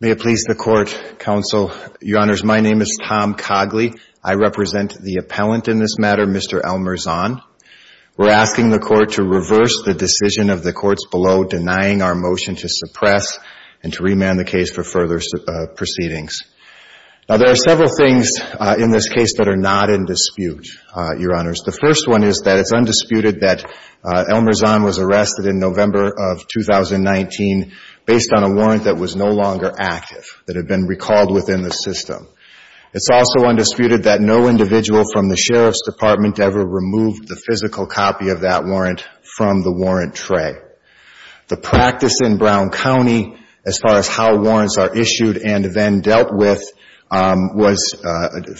May it please the Court, Counsel, Your Honors, my name is Tom Cogley. I represent the appellant in this matter, Mr. Elmer Zahn. We're asking the Court to reverse the decision of the courts below denying our motion to suppress and to remand the case for further proceedings. Now there are several things in this case that are not in dispute, Your Honors. The first one is that it's undisputed that Elmer Zahn was arrested in November of 2019 based on a warrant that was no longer active, that had been recalled within the system. It's also undisputed that no individual from the Sheriff's Department ever removed the physical copy of that warrant from the warrant tray. The practice in Brown County as far as how warrants are issued and then dealt with was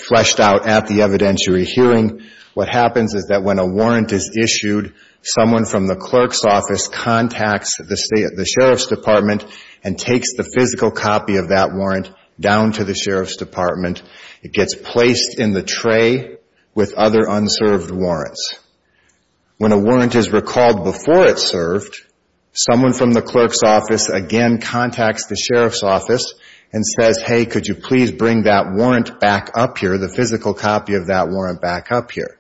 fleshed out at the evidentiary hearing. What happens is that when a warrant is issued, someone from the clerk's office contacts the Sheriff's Department and takes the physical copy of that warrant down to the Sheriff's Department. It gets placed in the tray with other unserved warrants. When a warrant is recalled before it's served, someone from the clerk's office again contacts the Sheriff's office and says, hey, could you please bring that warrant back up here, the physical copy of that warrant back up here.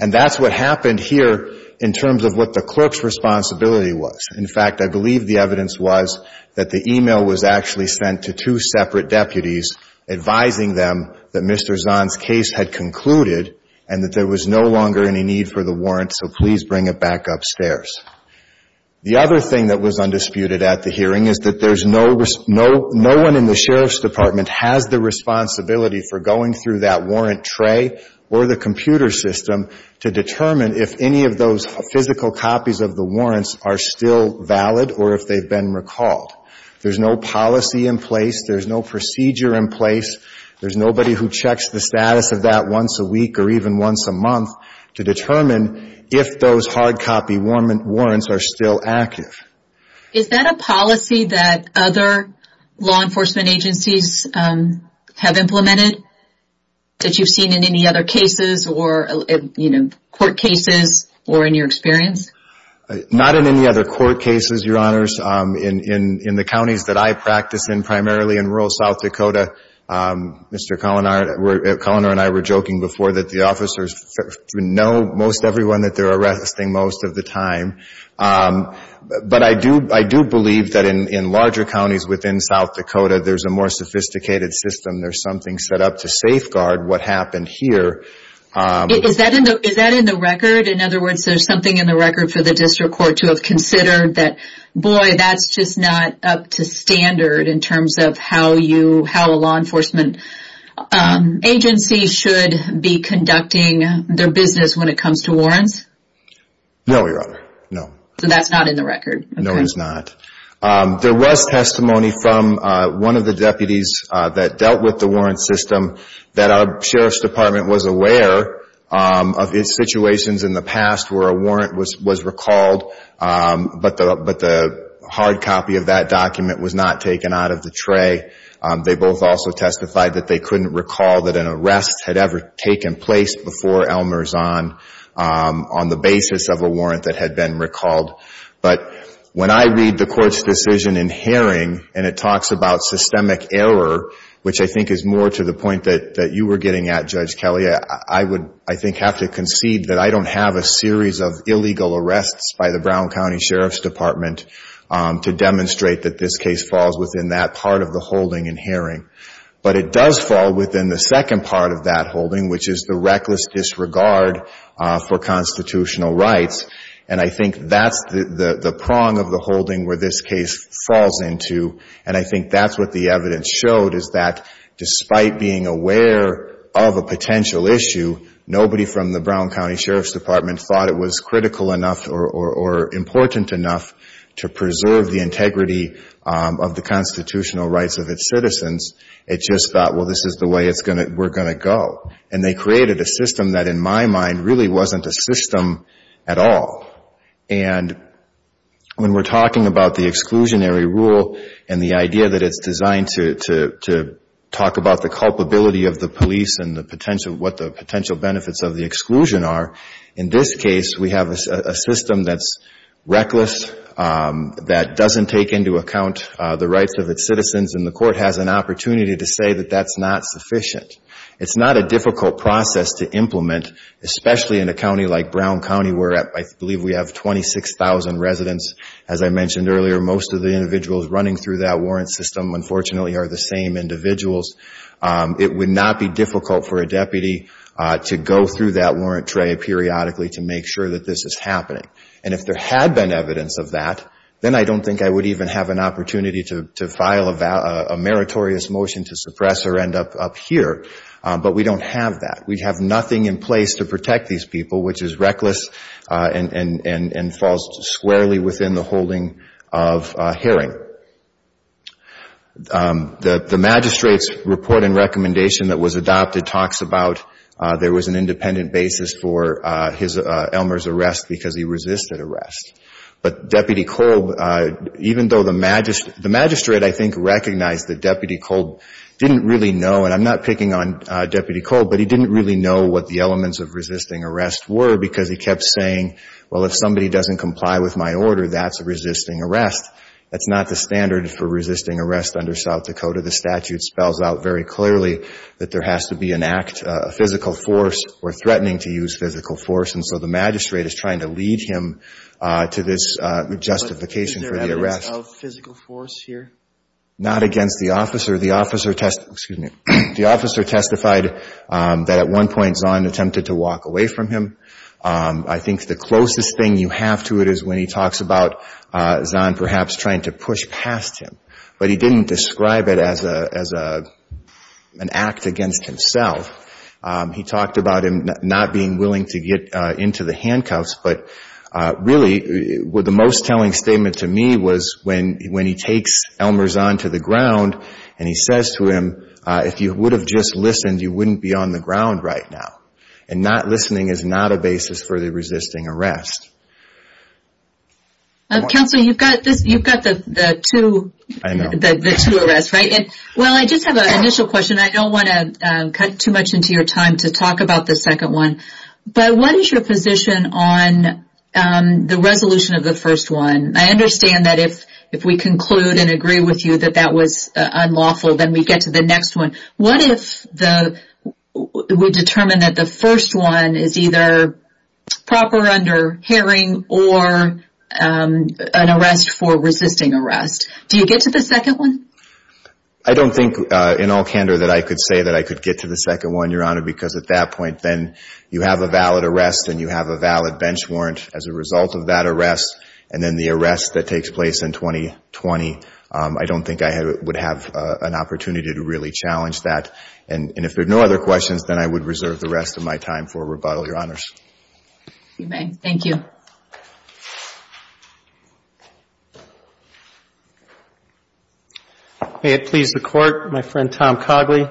And that's what happened here in terms of what the clerk's responsibility was. In fact, I believe the evidence was that the email was actually sent to two separate deputies advising them that Mr. Zahn's case had concluded and that there was no longer any need for the warrant, so please bring it back upstairs. The other thing that was undisputed at the hearing is that there's no, no one in the Sheriff's Department has the responsibility for going through that warrant tray or the computer system to determine if any of those physical copies of the warrants are still valid or if they've been recalled. There's no policy in place. There's no procedure in place. There's nobody who checks the status of that once a week or even once a month to determine if those hard copy warrants are still active. Is that a policy that other law enforcement agencies have implemented that you've seen in any other cases or, you know, court cases or in your experience? Not in any other court cases, Your Honors. In the counties that I practice in primarily in rural South Dakota, Mr. Cullinan and I were joking before that the officers know most everyone that they're arresting most of the time, but I do believe that in larger counties within South Dakota, there's a more sophisticated system. There's something set up to safeguard what happened here. Is that in the record? In other words, there's something in the record for the district court to have how a law enforcement agency should be conducting their business when it comes to warrants? No, Your Honor. No. So that's not in the record? No, it's not. There was testimony from one of the deputies that dealt with the warrant system that our Sheriff's Department was aware of its situations in the past where a warrant was recalled, but the hard copy of that document was not taken out of the tray. They both also testified that they couldn't recall that an arrest had ever taken place before Elmer Zahn on the basis of a warrant that had been recalled. But when I read the Court's decision in Haring, and it talks about systemic error, which I think is more to the point that you were getting at, Judge Kelly, I would, I think, have to concede that I don't have a series of evidence to demonstrate that this case falls within that part of the holding in Haring, but it does fall within the second part of that holding, which is the reckless disregard for constitutional rights, and I think that's the prong of the holding where this case falls into, and I think that's what the evidence showed, is that despite being aware of a potential issue, nobody from the Brown County Sheriff's Department thought it was critical enough or important enough to preserve the integrity of the constitutional rights of its citizens. It just thought, well, this is the way we're going to go, and they created a system that, in my mind, really wasn't a system at all, and when we're talking about the exclusionary rule and the idea that it's designed to talk about the culpability of the police and what the potential benefits of the exclusion are, in this case, we have a system that's reckless, that doesn't take into account the rights of its citizens, and the court has an opportunity to say that that's not sufficient. It's not a difficult process to implement, especially in a county like Brown County, where I believe we have 26,000 residents. As I mentioned earlier, most of the individuals running through that warrant system, unfortunately, are the same individuals. It would not be difficult for a person to go through that warrant tray periodically to make sure that this is happening. And if there had been evidence of that, then I don't think I would even have an opportunity to file a meritorious motion to suppress or end up here, but we don't have that. We have nothing in place to protect these people, which is reckless and falls squarely within the holding of an independent basis for Elmer's arrest because he resisted arrest. But Deputy Kolb, even though the magistrate, I think, recognized that Deputy Kolb didn't really know, and I'm not picking on Deputy Kolb, but he didn't really know what the elements of resisting arrest were because he kept saying, well, if somebody doesn't comply with my order, that's resisting arrest. That's not the standard for resisting arrest under South Dakota. The statute spells out very clearly that there has to be an act, a physical force, or threatening to use physical force. And so the magistrate is trying to lead him to this justification for the arrest. But is there evidence of physical force here? Not against the officer. The officer testified that at one point Zahn attempted to walk away from him. I think the closest thing you have to it is when he talks about Zahn perhaps trying to push past him. But he didn't describe it as an act against himself. He talked about him not being willing to get into the handcuffs. But really, the most telling statement to me was when he takes Elmer Zahn to the ground and he says to him, if you would have just listened, you wouldn't be on the ground right now. And not listening is not a basis for the resisting arrest. Counselor, you've got the two arrests, right? I know. Let's talk about the second one. But what is your position on the resolution of the first one? I understand that if we conclude and agree with you that that was unlawful, then we get to the next one. What if we determine that the first one is either proper under herring or an arrest for resisting arrest? Do you get to the second one? I don't think in all candor that I could say that I could get to the second one, Your Honor, because at that point, then you have a valid arrest and you have a valid bench warrant as a result of that arrest. And then the arrest that takes place in 2020, I don't think I would have an opportunity to really challenge that. And if there are no other questions, then I would reserve the rest of my time for rebuttal, Your Honors. You may. Thank you. May it please the Court, my friend Tom Cogley.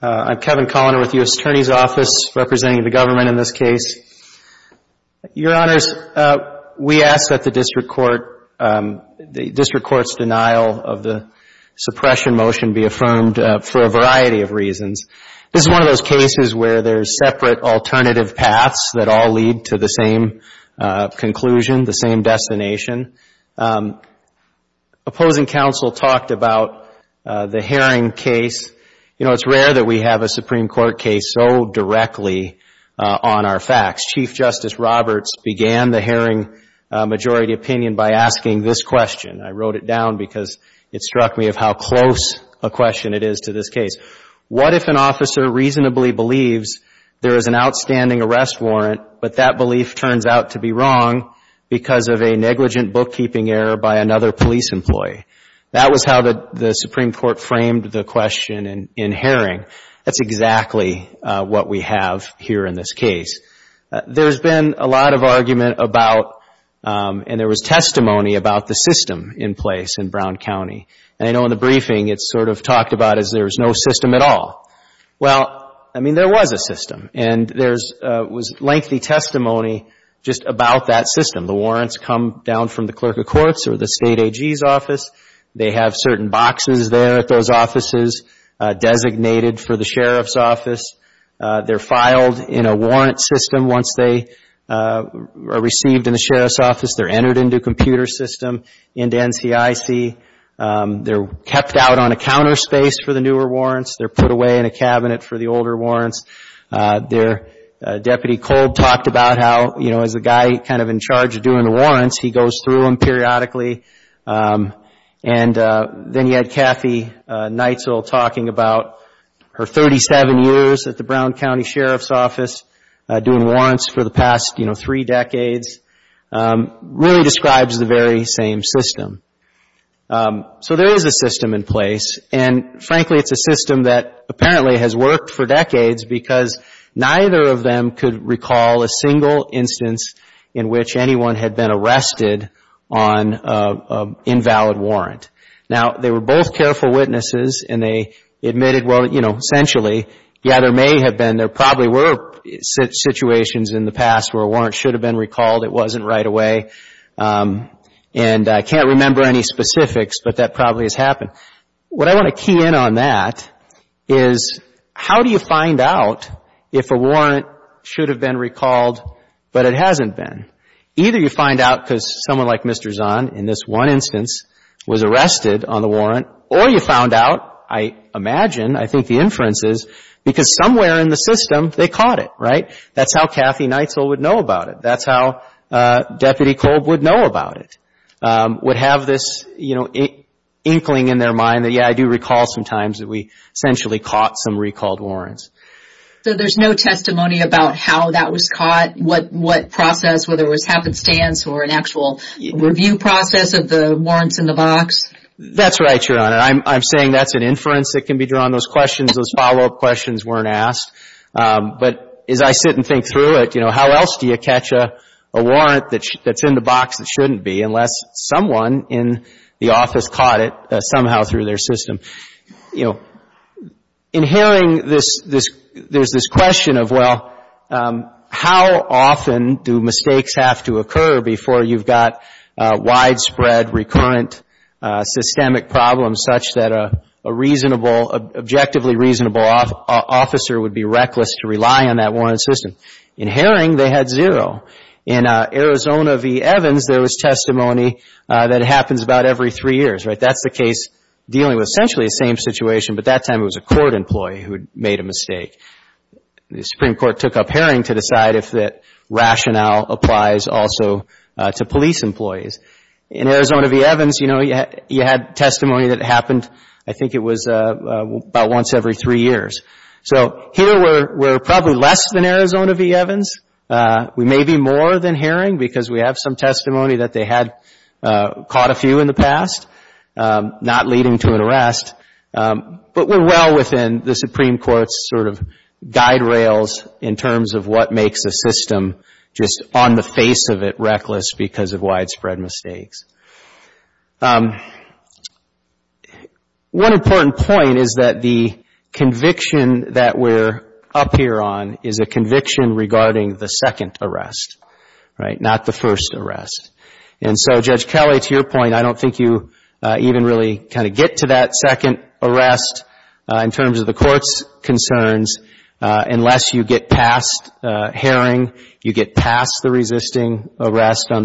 I'm Kevin Colliner with the U.S. Attorney's Office representing the government in this case. Your Honors, we ask that the district court's denial of the suppression motion be affirmed for a variety of reasons. This is one of those cases where there's separate alternative paths that all lead to the same conclusion, the same destination. Opposing counsel talked about the herring case. You know, it's rare that we have a Supreme Court case so directly on our facts. Chief Justice Roberts began the herring majority opinion by asking this question. I wrote it down because it struck me of how close a question it is to this case. What if an officer reasonably believes there is an outstanding arrest warrant, but that belief turns out to be wrong because of a negligent bookkeeping error by another police employee? That was how the Supreme Court framed the question in herring. That's exactly what we have here in this case. There's been a lot of argument about, and there was testimony about, the system in place in Brown County. And I know in the briefing it's sort of talked about as there's no system at all. Well, I mean, there was a system. And there was lengthy testimony just about that system. The warrants come down from the Clerk of Courts or the State AG's office. They have certain boxes there at those offices designated for the Sheriff's office. They're filed in a warrant system once they are received in the Sheriff's office. They're entered into a computer system into NCIC. They're kept out on a counter space for the newer warrants. They're put away in a cabinet for the older warrants. Their Deputy Kolb talked about how, as a guy kind of in charge of doing the warrants, he goes through them periodically. And then you had Kathy Neitzel talking about her 37 years at the Brown County Sheriff's office doing warrants for the past three decades. Really describes the very same system. So there is a system in place. And frankly, it's a system that apparently has worked for decades because neither of them could recall a single instance in which anyone had been arrested on an invalid warrant. Now, they were both careful witnesses, and they admitted, well, you know, essentially, yeah, there may have been, there probably were situations in the past where a warrant should have been recalled. I can't remember any specifics, but that probably has happened. What I want to key in on that is how do you find out if a warrant should have been recalled, but it hasn't been? Either you find out because someone like Mr. Zahn, in this one instance, was arrested on the warrant, or you found out, I imagine, I think the inference is, because somewhere in the system, they caught it, right? That's how Kathy Neitzel would know about it. That's how Deputy Kolb would know about it, would have this, you know, inkling in their mind that, yeah, I do recall sometimes that we essentially caught some recalled warrants. So there's no testimony about how that was caught, what process, whether it was happenstance or an actual review process of the warrants in the box? That's right, Your Honor. I'm saying that's an inference that can be drawn. Those questions, those follow-up questions weren't asked. But as I sit and think through it, you know, how else do you catch a warrant that's in the box that shouldn't be, unless someone in the office caught it somehow through their system? You know, in hearing this, there's this question of, well, how often do mistakes have to occur before you've got widespread, recurrent, systemic problems such that a reasonable, objectively reasonable officer would be reckless to rely on that warranted system? In hearing, they had zero. In Arizona v. Evans, there was testimony that happens about every three years, right? That's the case dealing with essentially the same situation, but that time it was a court employee who had made a mistake. The Supreme Court took up hearing to decide if that rationale applies also to police employees. In Arizona v. Evans, you know, you had testimony that happened, I think it was about once every three years. So here we're probably less than Arizona v. Evans. We may be more than hearing because we have some testimony that they had caught a few in the past, not leading to an arrest. But we're well within the Supreme Court's sort of guide rails in on the face of it reckless because of widespread mistakes. One important point is that the conviction that we're up here on is a conviction regarding the second arrest, right? Not the first arrest. And so, Judge Kelly, to your point, I don't think you even really kind of get to that arrest on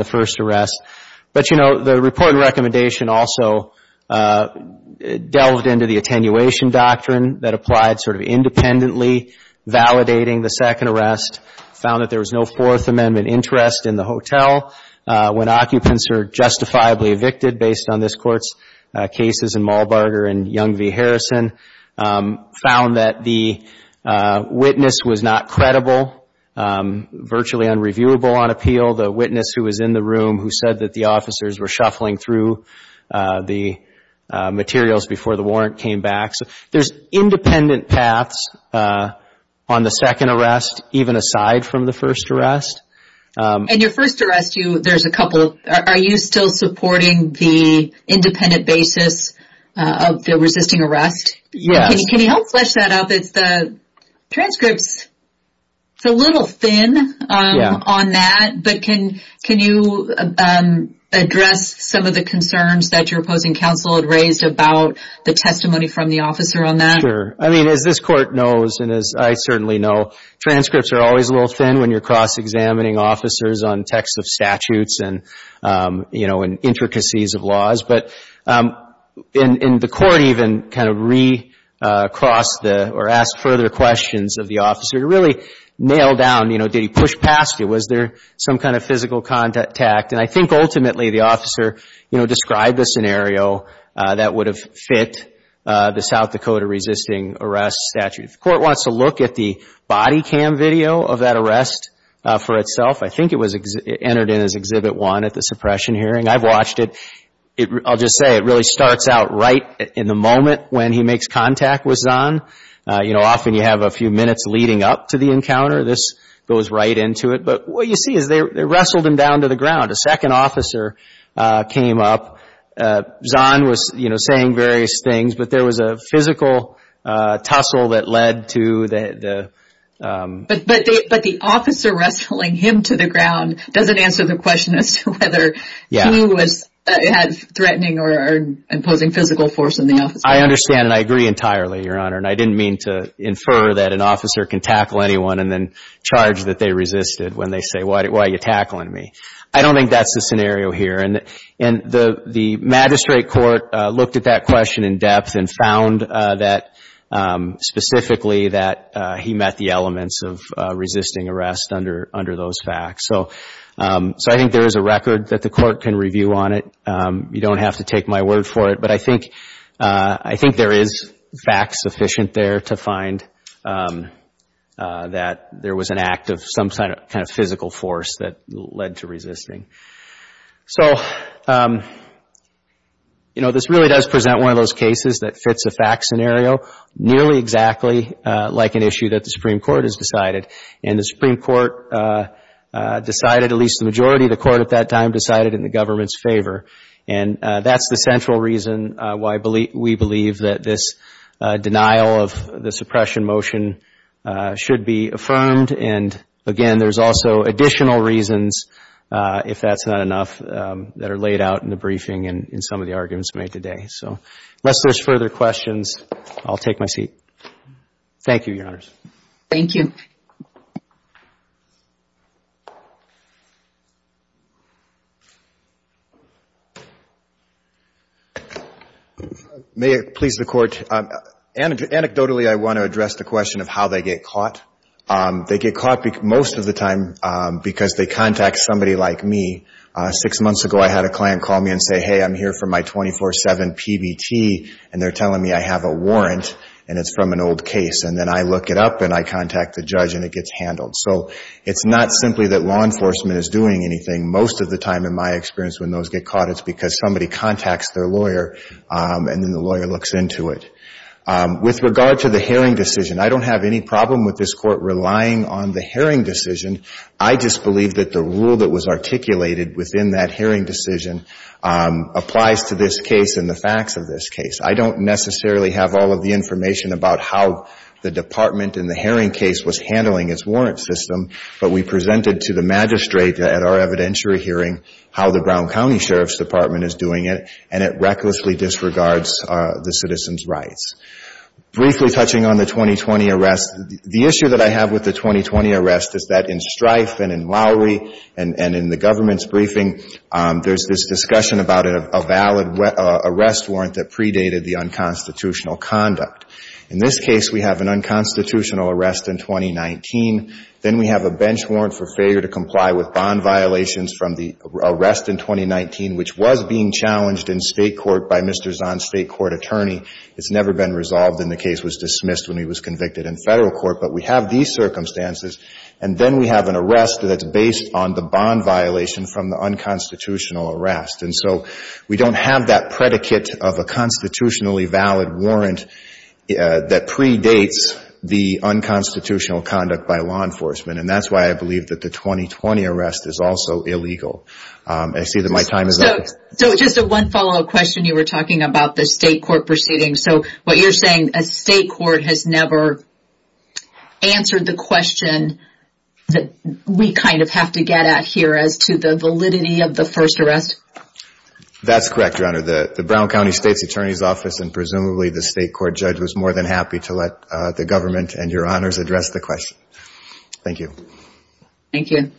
the first arrest. But, you know, the report and recommendation also delved into the attenuation doctrine that applied sort of independently validating the second arrest, found that there was no Fourth Amendment interest in the hotel when occupants are justifiably evicted based on this found that the witness was not credible, virtually unreviewable on appeal. The witness who was in the room who said that the officers were shuffling through the materials before the warrant came back. So there's independent paths on the second arrest, even aside from the first arrest. And your first arrest, there's a couple. Are you still supporting the independent basis of the resisting arrest? Can you help flesh that out? It's the transcripts. It's a little thin on that, but can you address some of the concerns that your opposing counsel had raised about the testimony from the officer on that? Sure. I mean, as this Court knows, and as I certainly know, transcripts are always a little thin when you're cross-examining officers on texts of statutes and, you know, intricacies of laws. But in the Court even kind of re-crossed the or asked further questions of the officer to really nail down, you know, did he push past you? Was there some kind of physical contact? And I think ultimately the officer, you know, described the South Dakota resisting arrest statute. The Court wants to look at the body cam video of that arrest for itself. I think it was entered in as Exhibit 1 at the suppression hearing. I've watched it. I'll just say it really starts out right in the moment when he makes contact with Zahn. You know, often you have a few minutes leading up to the encounter. This goes right into it. But what you see is they wrestled him down to the ground. There was a physical tussle that led to the... But the officer wrestling him to the ground doesn't answer the question as to whether he was threatening or imposing physical force on the officer. I understand and I agree entirely, Your Honor. And I didn't mean to infer that an officer can tackle anyone and then charge that they resisted when they say, why are you tackling me? I don't think that's the scenario here. And the magistrate court looked at that question in depth and found that specifically that he met the elements of resisting arrest under those facts. So I think there is a record that the Court can review on it. You don't have to look at the physical force that led to resisting. So, you know, this really does present one of those cases that fits a fact scenario nearly exactly like an issue that the Supreme Court has decided. And the Supreme Court decided, at least the majority of the Court at that time, decided in the government's favor. And that's the central reason why we believe that this denial of the suppression motion should be affirmed. And again, there's also additional reasons, if that's not enough, that are laid out in the briefing and in some of the arguments made today. So unless there's further questions, I'll take my seat. Thank you, Your Honors. Thank you. May it please the Court. Anecdotally, I want to address the question of how they get caught. They get caught most of the time because they contact somebody like me. Six months ago, I had a client call me and say, hey, I'm here for my 24-7 PBT, and they're telling me I have a warrant, and it's from an I look it up, and I contact the judge, and it gets handled. So it's not simply that law enforcement is doing anything. Most of the time, in my experience, when those get caught, it's because somebody contacts their lawyer, and then the lawyer looks into it. With regard to the hearing decision, I don't have any problem with this Court relying on the hearing decision. I just believe that the rule that was in the hearing case was handling its warrant system, but we presented to the magistrate at our evidentiary hearing how the Brown County Sheriff's Department is doing it, and it recklessly disregards the citizen's rights. Briefly touching on the 2020 arrest, the issue that I have with the 2020 arrest is that in Strife and in Lowry and in the government's briefing, there's this case, we have an unconstitutional arrest in 2019. Then we have a bench warrant for failure to comply with bond violations from the arrest in 2019, which was being challenged in state court by Mr. Zahn's state court attorney. It's never been resolved, and the case was dismissed when he was convicted in federal court. But we have these circumstances, and then we have an arrest that's based on the bond violation from the unconstitutional arrest. We don't have that predicate of a constitutionally valid warrant that predates the unconstitutional conduct by law enforcement, and that's why I believe that the 2020 arrest is also illegal. I see that my time is up. So just a one follow-up question. You were talking about the state court proceedings. So what you're saying, a state court has never answered the question that we kind of have to get at here as to the validity of the first arrest? That's correct, Your Honor. The Brown County State's Attorney's Office and presumably the state court judge was more than happy to let the government and Your Honors address the question. Thank you. Thank you.